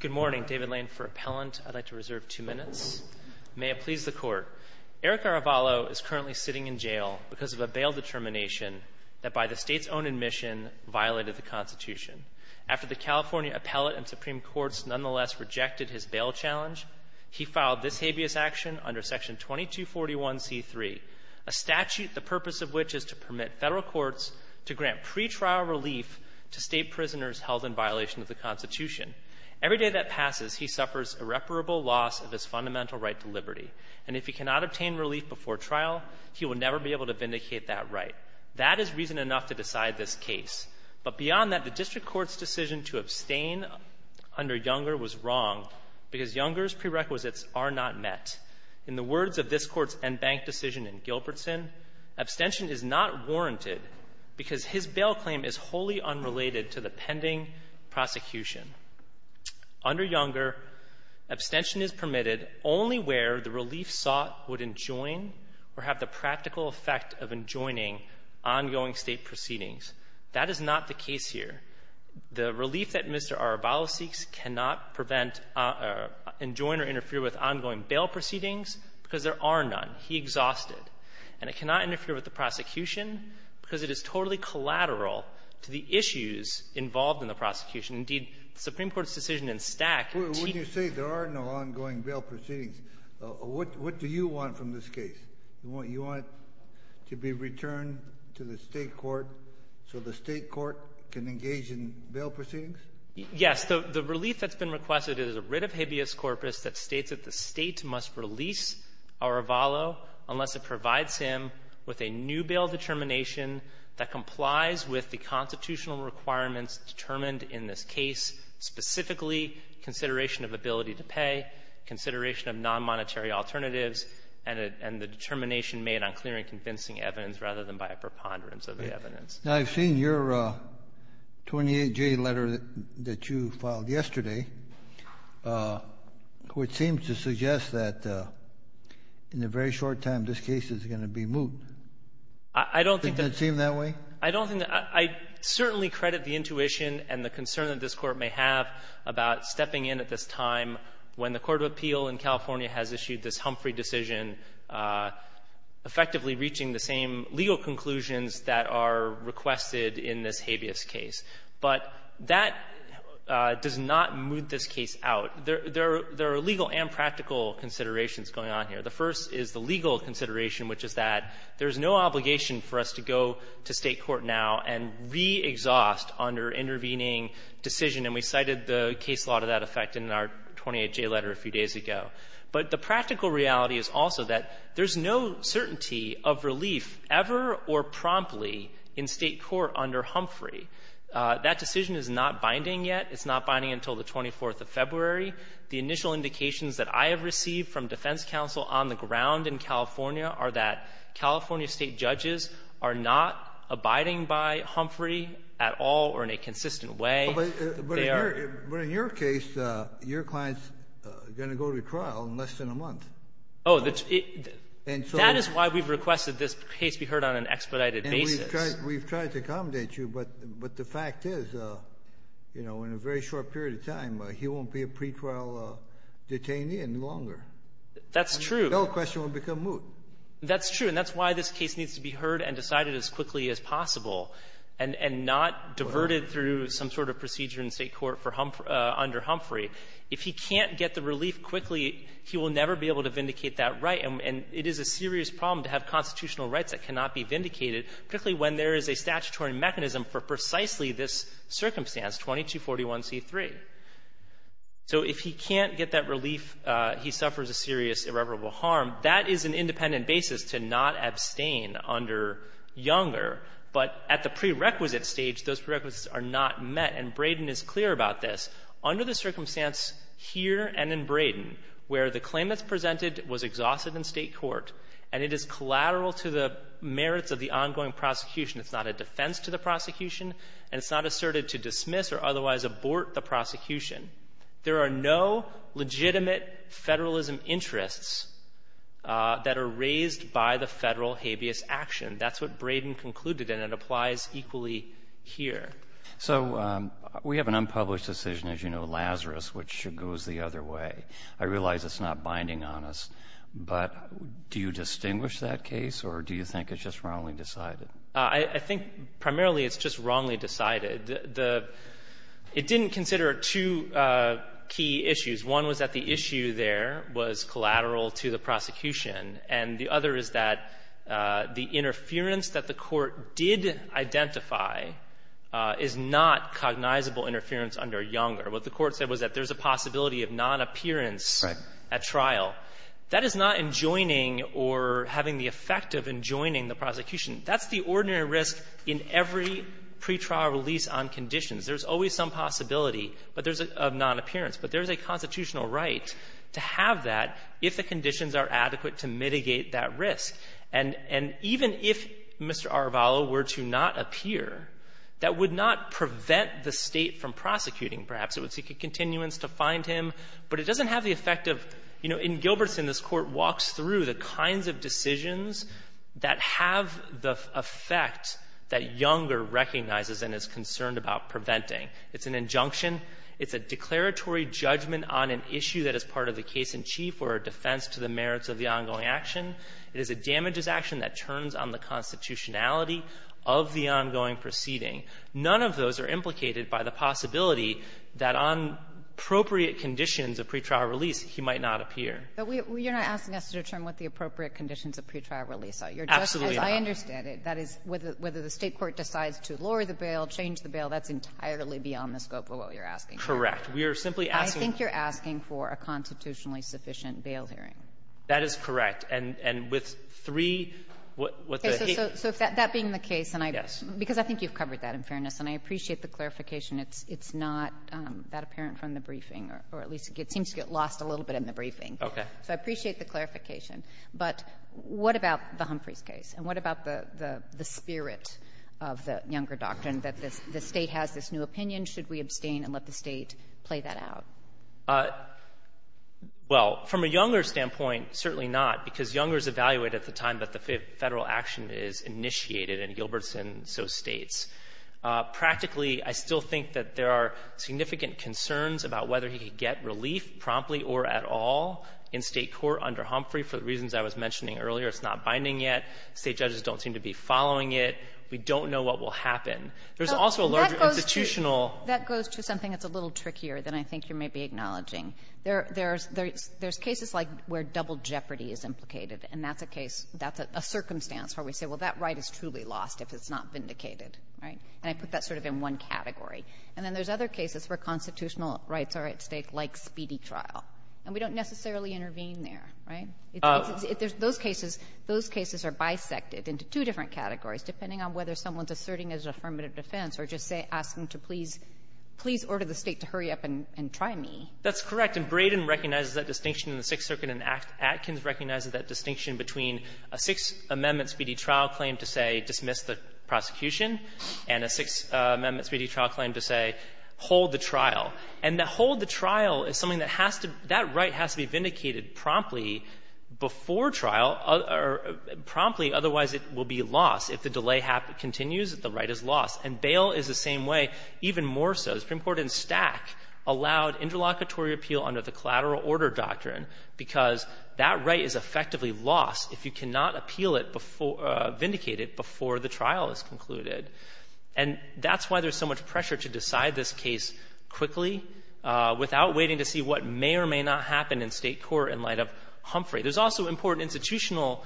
Good morning. David Lane for Appellant. I'd like to reserve two minutes. May it please the Court. Erick Arevalo is currently sitting in jail because of a bail determination that, by the State's own admission, violated the Constitution. After the California Appellate and Supreme Courts nonetheless rejected his bail challenge, he filed this habeas action under Section 2241c3, a statute the purpose of which is to permit Federal Courts to grant pretrial relief to State prisoners held in violation of the Constitution. Every day that passes, he suffers irreparable loss of his fundamental right to liberty. And if he cannot obtain relief before trial, he will never be able to vindicate that right. That is reason enough to decide this case. But beyond that, the district court's decision to abstain under Younger was wrong because Younger's prerequisites are not met. In the words of this Court's en banc decision in Gilbertson, abstention is not warranted because his bail claim is wholly unrelated to the pending prosecution. Under Younger, abstention is permitted only where the relief sought would enjoin or have the practical effect of enjoining ongoing State proceedings. That is not the case here. The relief that Mr. Arevalo seeks cannot prevent or enjoin or interfere with ongoing bail proceedings because there are none. He exhausted. And it cannot interfere with the prosecution because it is totally collateral to the issues involved in the prosecution. Indeed, the Supreme Court's decision in Stack to — Kennedy, you say there are no ongoing bail proceedings. What do you want from this case? You want it to be returned to the State court so the State court can engage in bail proceedings? Yes. The relief that's been requested is a writ of habeas corpus that states that the State must release Arevalo unless it provides him with a new bail determination that complies with the constitutional requirements determined in this case, specifically consideration of ability to pay, consideration of nonmonetary alternatives, and the determination made on clear and convincing evidence rather than by a preponderance of the evidence. Now, I've seen your 28J letter that you filed yesterday, which seems to suggest that in a very short time, this case is going to be moot. I don't think that — Doesn't it seem that way? I don't think that — I certainly credit the intuition and the concern that this Court may have about stepping in at this time when the court of appeal in California has issued this Humphrey decision, effectively reaching the same legal conclusions that are requested in this habeas case. But that does not moot this case out. There are legal and practical considerations going on here. The first is the legal consideration, which is that there's no obligation for us to go to State court now and re-exhaust under intervening decision. And we cited the case law to that effect in our 28J letter a few days ago. But the practical reality is also that there's no certainty of relief ever or promptly in State court under Humphrey. That decision is not binding yet. It's not binding until the 24th of February. The initial indications that I have received from defense counsel on the ground in California are that California State judges are not abiding by Humphrey at all or in a consistent way. They are — But in your case, your client's going to go to trial in less than a month. Oh, that's — that is why we've requested this case be heard on an expedited basis. We've tried to accommodate you, but the fact is, you know, in a very short period of time, he won't be a pretrial detainee any longer. That's true. No question it will become moot. That's true. And that's why this case needs to be heard and decided as quickly as possible and not diverted through some sort of procedure in State court for Humphrey under Humphrey. If he can't get the relief quickly, he will never be able to vindicate that right. And it is a serious problem to have constitutional rights that cannot be vindicated, particularly when there is a statutory mechanism for precisely this circumstance, 2241c3. So if he can't get that relief, he suffers a serious irreparable harm. That is an independent basis to not abstain under Younger. But at the prerequisite stage, those prerequisites are not met. And Braden is clear about this. Under the circumstance here and in Braden, where the claim that's presented was exhausted in State court, and it is collateral to the merits of the ongoing prosecution, it's not a defense to the prosecution, and it's not asserted to dismiss or otherwise abort the prosecution, there are no legitimate Federalism interests that are raised by the Federal habeas action. That's what Braden concluded, and it applies equally here. So we have an unpublished decision, as you know, Lazarus, which goes the other way. I realize it's not binding on us, but do you distinguish that case, or do you think it's just wrongly decided? I think primarily it's just wrongly decided. The — it didn't consider two key issues. One was that the issue there was collateral to the prosecution, and the other is that the interference that the Court did identify is not cognizable interference under Younger. What the Court said was that there's a possibility of non-appearance at trial. That is not enjoining or having the effect of enjoining the prosecution. That's the ordinary risk in every pretrial release on conditions. There's always some possibility, but there's a — of non-appearance. But there's a constitutional right to have that if the conditions are adequate to mitigate that risk. And even if Mr. Arvalo were to not appear, that would not prevent the State from seeking continuance to find him. But it doesn't have the effect of — you know, in Gilbertson, this Court walks through the kinds of decisions that have the effect that Younger recognizes and is concerned about preventing. It's an injunction. It's a declaratory judgment on an issue that is part of the case-in-chief or a defense to the merits of the ongoing action. It is a damages action that turns on the constitutionality of the ongoing proceeding. None of those are implicated by the possibility that on appropriate conditions of pretrial release, he might not appear. But we — you're not asking us to determine what the appropriate conditions of pretrial release are. You're just — Absolutely not. As I understand it, that is, whether the State court decides to lower the bail, change the bail, that's entirely beyond the scope of what you're asking for. Correct. We are simply asking — I think you're asking for a constitutionally sufficient bail hearing. That is correct. And with three — So if that being the case, and I — Yes. Because I think you've covered that, in fairness. And I appreciate the clarification. It's not that apparent from the briefing, or at least it seems to get lost a little bit in the briefing. Okay. So I appreciate the clarification. But what about the Humphreys case? And what about the spirit of the Younger doctrine, that the State has this new opinion? Should we abstain and let the State play that out? Well, from a Younger standpoint, certainly not, because Younger is evaluated at the time that the Federal action is initiated, and Gilbertson so states. Practically, I still think that there are significant concerns about whether he could get relief promptly or at all in State court under Humphrey. For the reasons I was mentioning earlier, it's not binding yet. State judges don't seem to be following it. We don't know what will happen. There's also a larger institutional — That goes to something that's a little trickier than I think you may be acknowledging. There's cases like where double jeopardy is implicated, and that's a case — that's a circumstance where we say, well, that right is truly lost if it's not vindicated. Right? And I put that sort of in one category. And then there's other cases where constitutional rights are at stake, like Speedy trial. And we don't necessarily intervene there. Right? Those cases — those cases are bisected into two different categories, depending on whether someone's asserting his affirmative defense or just asking to please — please order the State to hurry up and try me. That's correct. And Braden recognizes that distinction in the Sixth Circuit, and Atkins recognizes that distinction between a Sixth Amendment Speedy trial claim to say dismiss the prosecution and a Sixth Amendment Speedy trial claim to say hold the trial. And the hold the trial is something that has to — that right has to be vindicated promptly before trial, or promptly, otherwise it will be lost. If the delay continues, the right is lost. And bail is the same way, even more so. The Supreme Court in Stack allowed interlocutory appeal under the collateral order doctrine because that right is effectively lost if you cannot appeal it before — vindicate it before the trial is concluded. And that's why there's so much pressure to decide this case quickly without waiting to see what may or may not happen in State court in light of Humphrey. There's also important institutional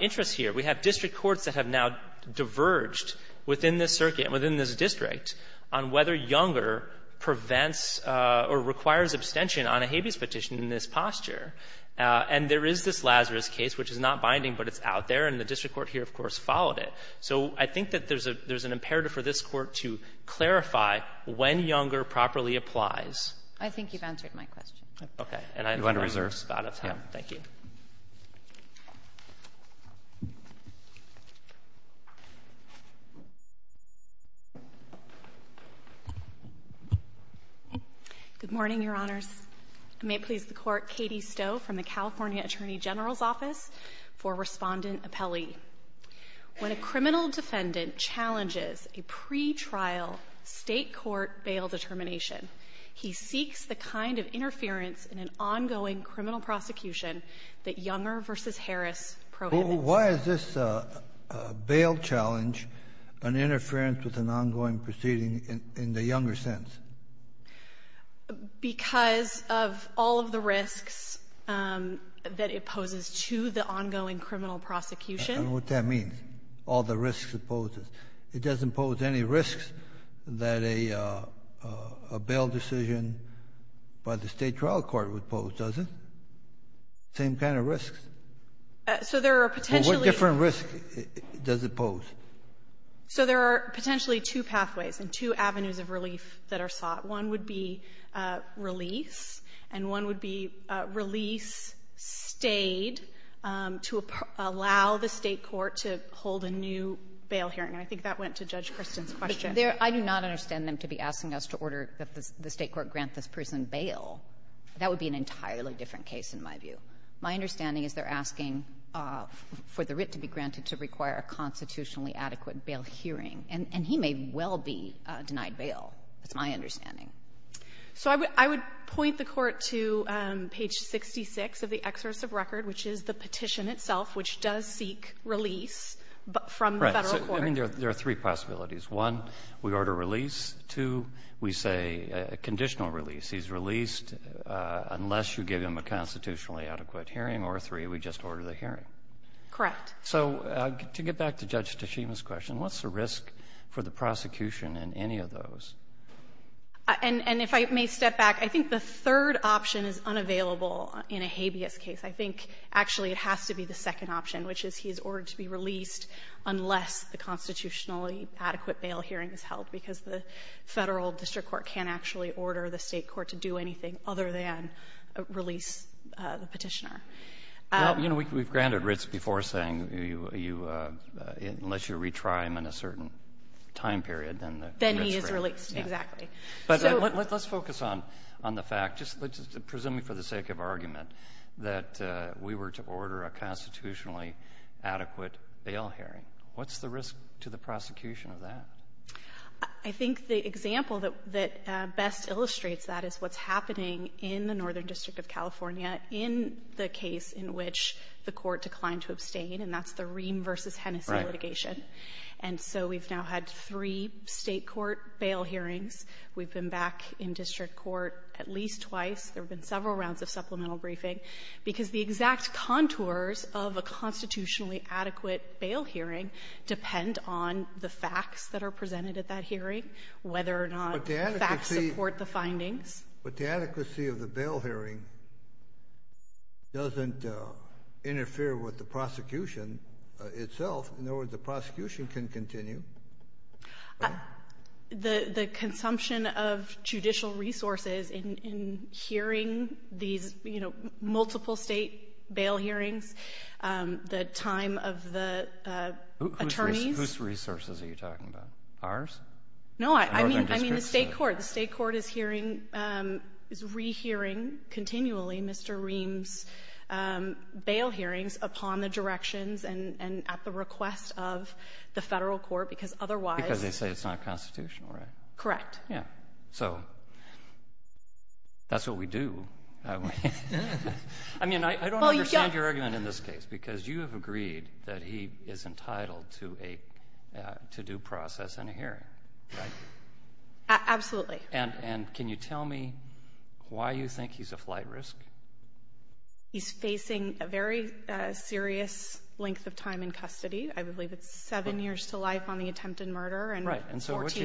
interests here. We have district courts that have now diverged within this circuit, within this district, on whether Younger prevents or requires abstention on a habeas petition in this posture. And there is this Lazarus case, which is not binding, but it's out there, and the district court here, of course, followed it. So I think that there's an imperative for this Court to clarify when Younger properly applies. I think you've answered my question. Okay. And I have no other spot of time. Thank you. Good morning, Your Honors. I may please the Court. Katie Stowe from the California Attorney General's Office for Respondent Appellee. When a criminal defendant challenges a pretrial State court bail determination, he seeks the kind of interference in an ongoing criminal prosecution that Younger v. Harris prohibits. Why is this bail challenge an interference with an ongoing proceeding in the Younger sense? Because of all of the risks that it poses to the ongoing criminal prosecution. I don't know what that means, all the risks it poses. It doesn't pose any risks that a bail decision by the State trial court would pose, does it? Same kind of risks. So there are potentially — What different risks does it pose? So there are potentially two pathways and two avenues of relief that are sought. One would be release, and one would be release stayed to allow the State court to hold a new bail hearing. And I think that went to Judge Kristin's question. But there — I do not understand them to be asking us to order the State court grant this person bail. That would be an entirely different case, in my view. My understanding is they're asking for the writ to be granted to require a constitutionally adequate bail hearing. And he may well be denied bail. That's my understanding. So I would point the Court to page 66 of the exercise of record, which is the petition itself, which does seek release from the Federal court. Right. So I mean, there are three possibilities. One, we order release. Two, we say a conditional release. He's released unless you give him a constitutionally adequate hearing. Or three, we just order the hearing. Correct. So to get back to Judge Tashima's question, what's the risk for the prosecution in any of those? And if I may step back, I think the third option is unavailable in a habeas case. I think, actually, it has to be the second option, which is he is ordered to be released unless the constitutionally adequate bail hearing is held, because the Federal district court can't actually order the State court to do anything other than release the Petitioner. Well, you know, we've granted writs before saying you unless you retry them in a certain time period, then the writ is granted. Then he is released. Exactly. So let's focus on the fact, just presuming for the sake of argument, that the State court said that we were to order a constitutionally adequate bail hearing. What's the risk to the prosecution of that? I think the example that best illustrates that is what's happening in the Northern District of California in the case in which the court declined to abstain, and that's the Ream v. Hennessey litigation. And so we've now had three State court bail hearings. We've been back in district court at least twice. There have been several rounds of supplemental briefing, because the exact contours of a constitutionally adequate bail hearing depend on the facts that are presented at that hearing, whether or not the facts support the findings. But the adequacy of the bail hearing doesn't interfere with the prosecution itself. In other words, the prosecution can continue. The consumption of judicial resources in hearing these, you know, multiple State bail hearings, the time of the attorneys. Whose resources are you talking about? Ours? No, I mean the State court. The State court is hearing, is rehearing continually Mr. Ream's bail hearings upon the directions and at the request of the Federal court, because that's the case. Because otherwise. Because they say it's not constitutional, right? Correct. Yeah. So that's what we do. I mean, I don't understand your argument in this case, because you have agreed that he is entitled to a to-do process in a hearing, right? Absolutely. And can you tell me why you think he's a flight risk? He's facing a very serious length of time in custody. I believe it's seven years to life on the attempted murder. Right. And so what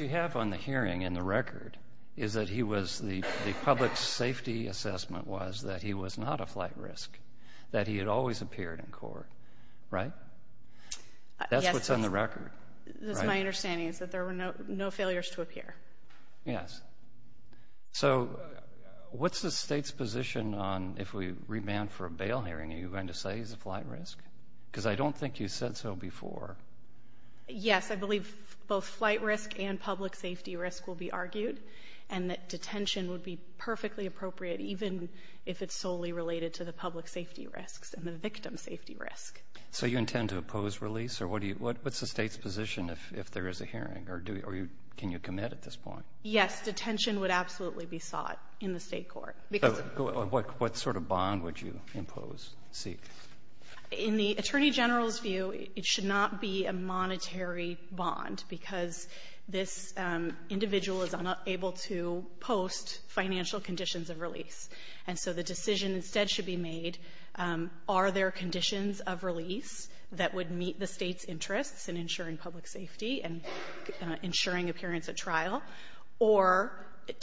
you have on the hearing in the record is that he was, the public safety assessment was that he was not a flight risk. That he had always appeared in court, right? That's what's on the record. That's my understanding is that there were no failures to appear. Yes. So what's the State's position on if we remand for a bail hearing, are you going to say he's a flight risk? Because I don't think you said so before. Yes, I believe both flight risk and public safety risk will be argued. And that detention would be perfectly appropriate, even if it's solely related to the public safety risks and the victim safety risk. So you intend to oppose release? Or what's the State's position if there is a hearing? Or can you commit at this point? Yes, detention would absolutely be sought in the State court. Because of what sort of bond would you impose, seek? In the Attorney General's view, it should not be a monetary bond, because this individual is unable to post financial conditions of release. And so the decision instead should be made, are there conditions of release that would meet the State's interests in ensuring public safety and ensuring appearance at trial? Or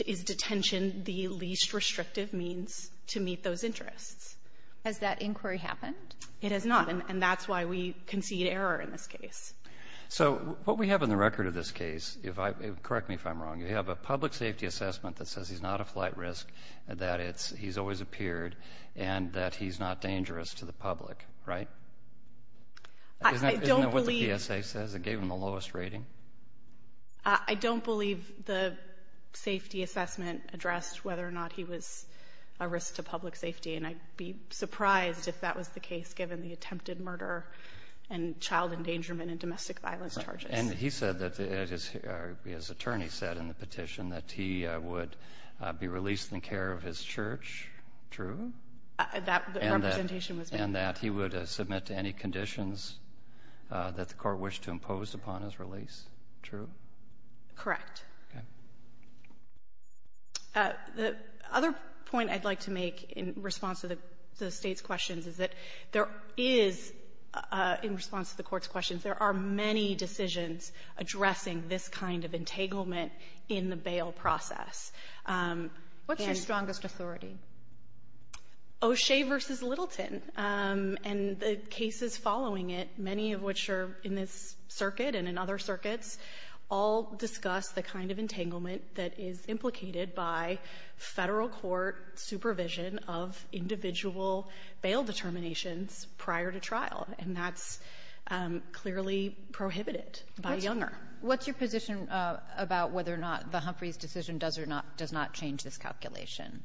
is detention the least restrictive means to meet those interests? Has that inquiry happened? It has not. And that's why we concede error in this case. So what we have in the record of this case, correct me if I'm wrong, you have a public safety assessment that says he's not a flight risk, that he's always appeared, and that he's not dangerous to the public, right? Isn't that what the PSA says? It gave him the lowest rating? I don't believe the safety assessment addressed whether or not he was a risk to I would be surprised if that was the case, given the attempted murder and child endangerment and domestic violence charges. And he said that, his attorney said in the petition, that he would be released in care of his church, true? That representation was made. And that he would submit to any conditions that the Court wished to impose upon his release, true? Correct. Okay. The other point I'd like to make in response to the State's questions is that there is, in response to the Court's questions, there are many decisions addressing this kind of entanglement in the bail process. What's your strongest authority? O'Shea v. Littleton, and the cases following it, many of which are in this circuit and in other circuits, all discuss the kind of entanglement that is implicated by Federal court supervision of individual bail determinations prior to trial. And that's clearly prohibited by Younger. What's your position about whether or not the Humphreys' decision does or not does not change this calculation?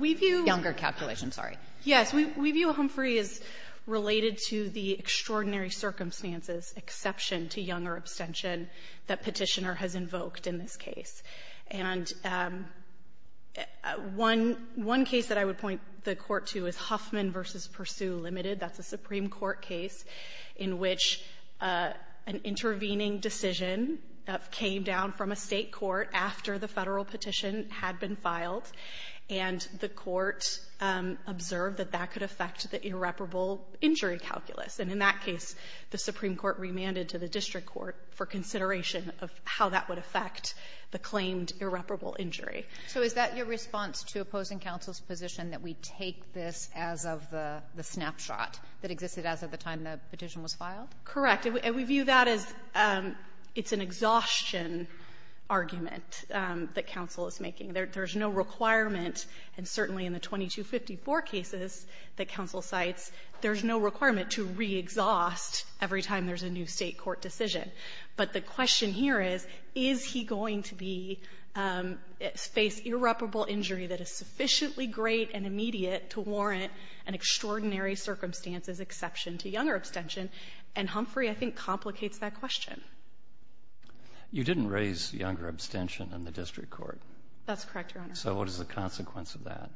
We view the Younger calculation, sorry. Yes. We view Humphrey as related to the extraordinary circumstances, exception to Younger abstention, that Petitioner has invoked in this case. And one case that I would point the Court to is Huffman v. Pursue, Ltd. That's a Supreme Court case in which an intervening decision came down from a State court after the Federal petition had been filed, and the Court observed that that could affect the irreparable injury calculus. And in that case, the Supreme Court remanded to the district court for consideration of how that would affect the claimed irreparable injury. So is that your response to opposing counsel's position that we take this as of the snapshot that existed as of the time the petition was filed? Correct. And we view that as it's an exhaustion argument that counsel is making. There's no requirement, and certainly in the 2254 cases that counsel cites, there's no requirement to re-exhaust every time there's a new State court decision. But the question here is, is he going to be face irreparable injury that is sufficiently great and immediate to warrant an extraordinary circumstances exception to Younger abstention? And Humphrey, I think, complicates that question. You didn't raise Younger abstention in the district court. That's correct, Your Honor. So what is the consequence of that?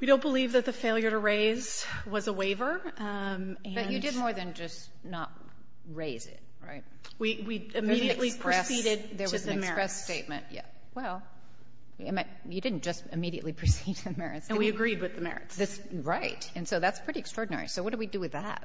We don't believe that the failure to raise was a waiver. And you did more than just not raise it, right? We immediately proceeded to the merits. There was an express statement. Well, you didn't just immediately proceed to the merits. And we agreed with the merits. Right. And so that's pretty extraordinary. So what do we do with that?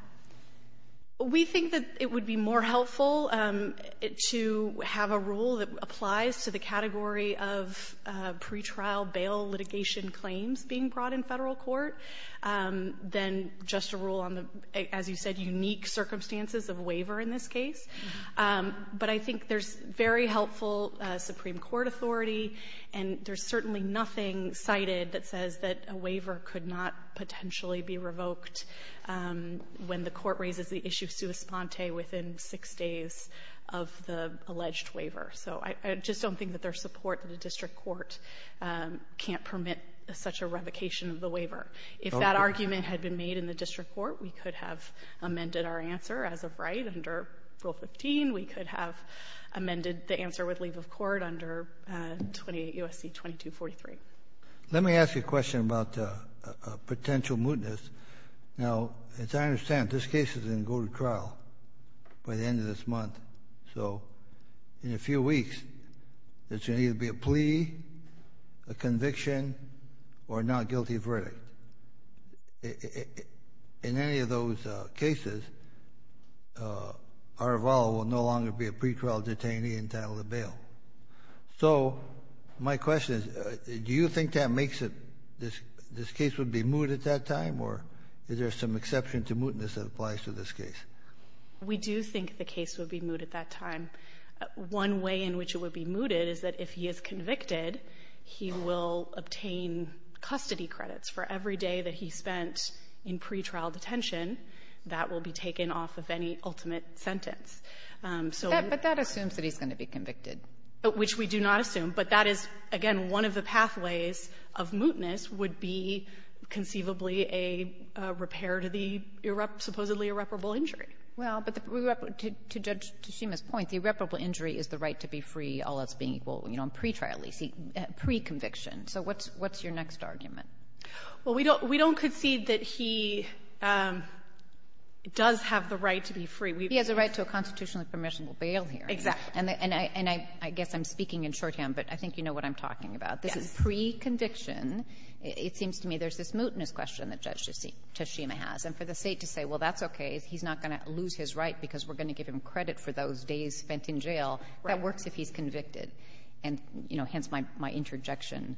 We think that it would be more helpful to have a rule that applies to the category of pretrial bail litigation claims being brought in Federal court than just a rule on the, as you said, unique circumstances of waiver in this case. But I think there's very helpful Supreme Court authority, and there's certainly nothing cited that says that a waiver could not potentially be revoked when the Court raises the issue sua sponte within six days of the alleged waiver. So I just don't think that there's support that a district court can't permit such a revocation of the waiver. If that argument had been made in the district court, we could have amended our answer as of right under Rule 15. We could have amended the answer with leave of court under 28 U.S.C. 2243. Let me ask you a question about potential mootness. Now, as I understand, this case is going to go to trial by the end of this month. So in a few weeks, there's going to be a plea, a conviction, or a not guilty verdict. In any of those cases, Aravalo will no longer be a pretrial detainee entitled to bail. So my question is, do you think that makes it, this case would be moot at that time? Or is there some exception to mootness that applies to this case? We do think the case would be moot at that time. One way in which it would be mooted is that if he is convicted, he will obtain custody credits for every day that he spent in pretrial detention that will be taken off of any ultimate sentence. So we're going to be convicted, which we do not assume, but that is, again, one of the pathways of mootness would be conceivably a repair to the supposedly irreparable injury. Well, but to Judge Tshima's point, the irreparable injury is the right to be free unless being equal, you know, in pretrial, preconviction. So what's your next argument? Well, we don't concede that he does have the right to be free. He has a right to a constitutionally permissible bail here. Exactly. And I guess I'm speaking in shorthand, but I think you know what I'm talking about. Yes. This is preconviction. It seems to me there's this mootness question that Judge Tshima has. And for the State to say, well, that's okay, he's not going to lose his right because we're going to give him credit for those days spent in jail, that works if he's convicted. And, you know, hence my interjection.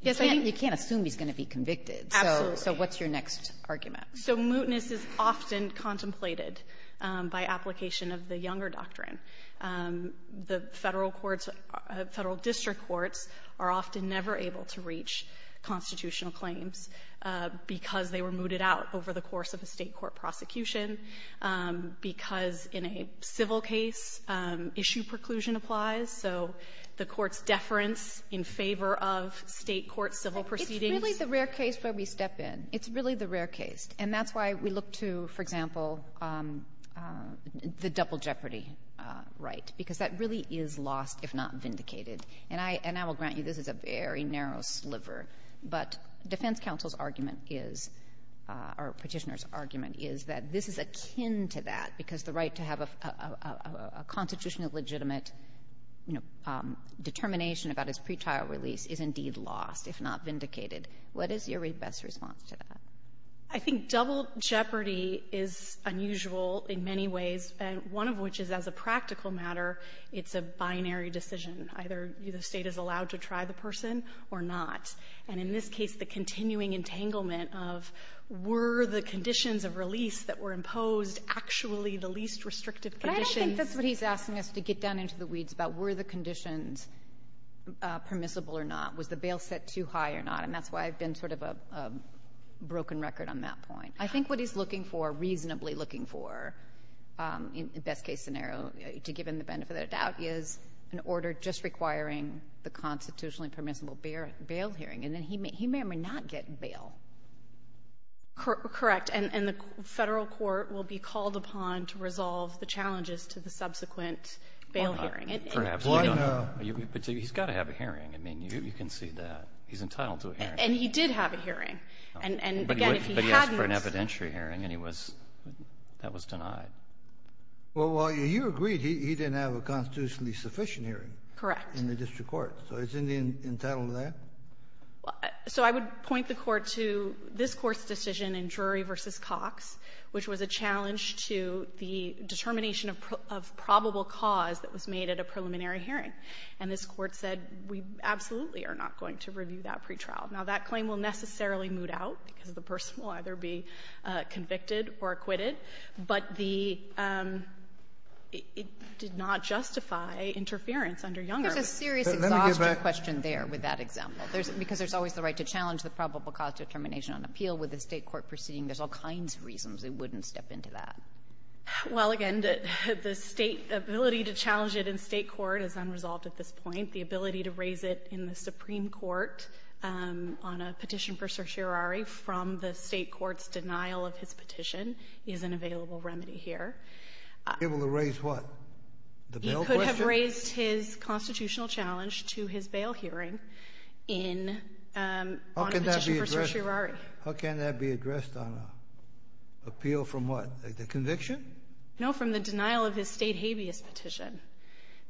You can't assume he's going to be convicted. Absolutely. So what's your next argument? So mootness is often contemplated by application of the Younger Doctrine. The Federal courts, Federal district courts, are often never able to reach constitutional claims because they were mooted out over the course of a State court prosecution, because in a civil case, issue preclusion applies. So the Court's deference in favor of State court civil proceedings — It's really the rare case where we step in. It's really the rare case. And that's why we look to, for example, the double jeopardy right, because that really is lost if not vindicated. And I will grant you this is a very narrow sliver, but defense counsel's argument is, or Petitioner's argument is, that this is akin to that, because the right to have a constitutional legitimate, you know, determination about his pretrial release is indeed lost if not vindicated. What is your best response to that? I think double jeopardy is unusual in many ways, and one of which is as a practical matter, it's a binary decision. Either the State is allowed to try the person or not. And in this case, the continuing entanglement of were the conditions of release that were imposed actually the least restrictive conditions. But I don't think that's what he's asking us to get down into the weeds about. Were the conditions permissible or not? Was the bail set too high or not? And that's why I've been sort of a broken record on that point. I think what he's looking for, reasonably looking for, in the best-case scenario, to give him the benefit of the doubt, is an order just requiring the constitutionally permissible bail hearing. And then he may or may not get bail. Correct. And the Federal court will be called upon to resolve the challenges to the subsequent bail hearing. And perhaps you don't. But he's got to have a hearing. I mean, you can see that. He's entitled to a hearing. And he did have a hearing. And, again, if he hadn't But he asked for an evidentiary hearing, and he was — that was denied. Well, you agreed he didn't have a constitutionally sufficient hearing. Correct. In the district court. So isn't he entitled to that? So I would point the Court to this Court's decision in Drury v. Cox, which was a challenge to the determination of probable cause that was made at a preliminary hearing. And this Court said, we absolutely are not going to review that pretrial. Now, that claim will necessarily moot out because the person will either be convicted or acquitted, but the — it did not justify interference under Younger. There's a serious exhaustion question there with that example. There's — because there's always the right to challenge the probable cause determination on appeal with a State court proceeding. There's all kinds of reasons it wouldn't step into that. Well, again, the State — the ability to challenge it in State court is unresolved at this point. The ability to raise it in the Supreme Court on a petition for certiorari from the State Court's denial of his petition is an available remedy here. He was able to raise what? The bail question? He could have raised his constitutional challenge to his bail hearing in — on a petition for certiorari. How can that be addressed? How can that be addressed on an appeal from what? The conviction? No, from the denial of his State habeas petition.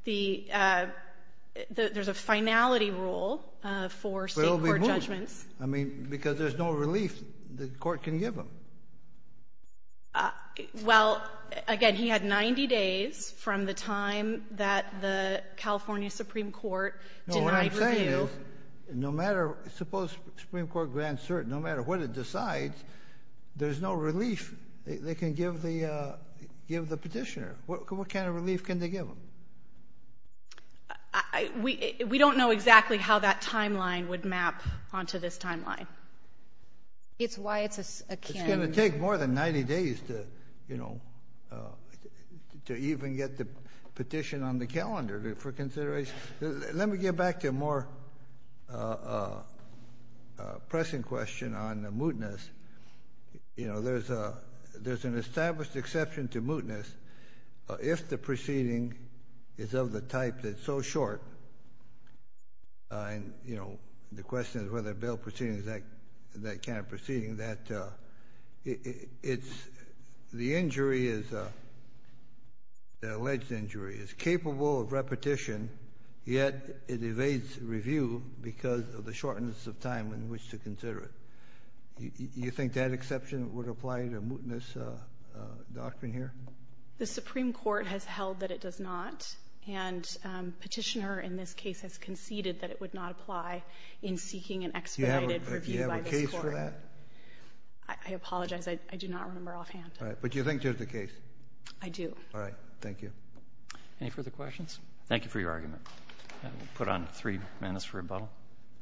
The — there's a finality rule for State court judgments. But it will be moot. I mean, because there's no relief the court can give him. Well, again, he had 90 days from the time that the California Supreme Court denied review. No, what I'm saying is, no matter — suppose Supreme Court grants cert, no matter what decides, there's no relief they can give the — give the petitioner. What kind of relief can they give him? We don't know exactly how that timeline would map onto this timeline. It's why it's akin — It's going to take more than 90 days to, you know, to even get the petition on the calendar for consideration. Let me get back to a more pressing question on the mootness. You know, there's a — there's an established exception to mootness if the proceeding is of the type that's so short, and, you know, the question is whether a bail proceeding is that kind of proceeding, that it's — the injury is — the alleged injury is capable of repetition, yet it evades review because of the shortness of time in which to consider it. You think that exception would apply to a mootness doctrine here? The Supreme Court has held that it does not, and Petitioner in this case has conceded that it would not apply in seeking an expedited review by this Court. Do you have a case for that? I apologize. I do not remember offhand. All right. But you think there's a case? I do. All right. Thank you. Any further questions? Thank you for your argument. We'll put on three minutes for rebuttal.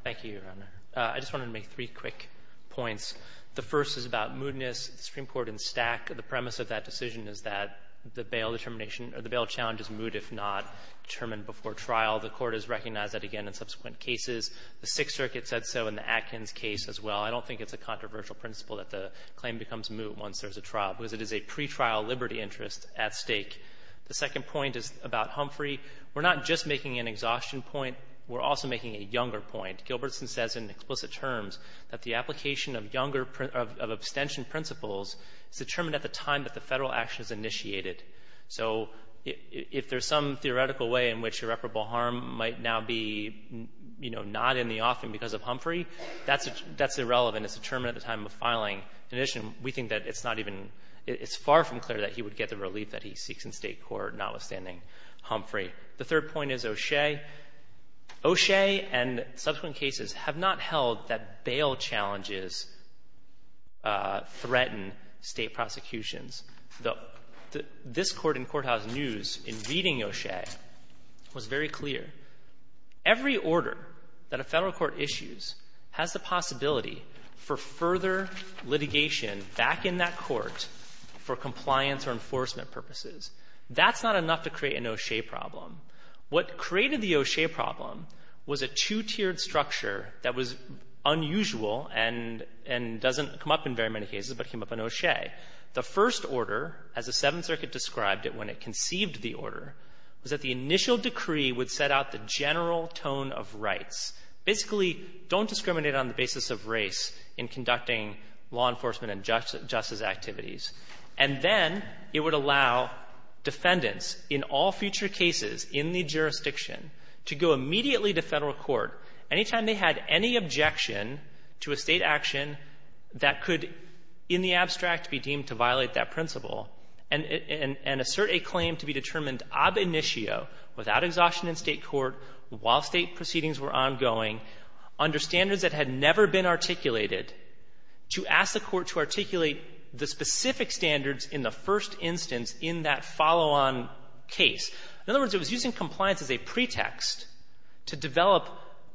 Thank you, Your Honor. I just wanted to make three quick points. The first is about mootness. The Supreme Court in Stack, the premise of that decision is that the bail determination — or the bail challenge is moot if not determined before trial. The Court has recognized that again in subsequent cases. The Sixth Circuit said so in the Atkins case as well. I don't think it's a controversial principle that the claim becomes moot once there's a trial, because it is a pretrial liberty interest at stake. The second point is about Humphrey. We're not just making an exhaustion point. We're also making a younger point. Gilbertson says in explicit terms that the application of younger — of abstention principles is determined at the time that the Federal action is initiated. So if there's some theoretical way in which irreparable harm might now be, you know, not in the offing because of Humphrey, that's — that's irrelevant. It's determined at the time of filing. In addition, we think that it's not even — it's far from clear that he would get the relief that he seeks in State court, notwithstanding Humphrey. The third point is O'Shea. O'Shea and subsequent cases have not held that bail challenges threaten State prosecutions. This Court in Courthouse News, in reading O'Shea, was very clear. Every order that a Federal court issues has the possibility for further litigation back in that court for compliance or enforcement purposes. That's not enough to create an O'Shea problem. What created the O'Shea problem was a two-tiered structure that was unusual and — and doesn't come up in very many cases, but came up in O'Shea. The first order, as the Seventh Circuit described it when it conceived the order, was that the initial decree would set out the general tone of rights. Basically, don't discriminate on the basis of race in conducting law enforcement and justice — justice activities. And then it would allow defendants in all future cases in the jurisdiction to go immediately to Federal court any time they had any objection to a State action that could, in the abstract, be deemed to violate that principle, and — and assert a claim to be determined ab initio, without exhaustion in State court, while State proceedings were ongoing, under standards that had never been articulated, to ask the Court to articulate the specific standards in the first instance in that follow-on case. In other words, it was using compliance as a pretext to develop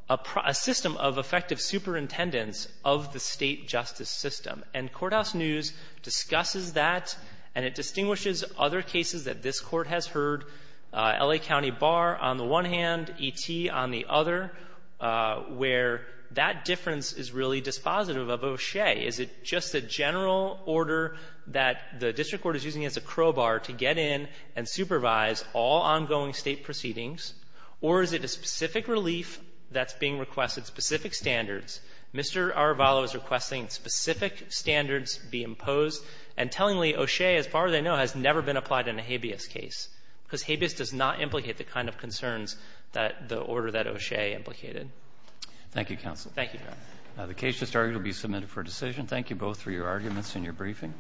a — a system of effective superintendence of the State justice system. And Courthouse News discusses that, and it distinguishes other cases that this Court has heard, L.A. County Bar on the one hand, E.T. on the other, where that difference is really dispositive of O'Shea. Is it just a general order that the district court is using as a crowbar to get in and supervise all ongoing State proceedings? Or is it a specific relief that's being requested, specific standards? Mr. Arvalo is requesting specific standards be imposed. And tellingly, O'Shea, as far as I know, has never been applied in a habeas case, because habeas does not implicate the kind of concerns that the order that O'Shea implicated. Thank you, counsel. Thank you, Your Honor. The case just argued will be submitted for decision. Thank you both for your arguments and your briefing.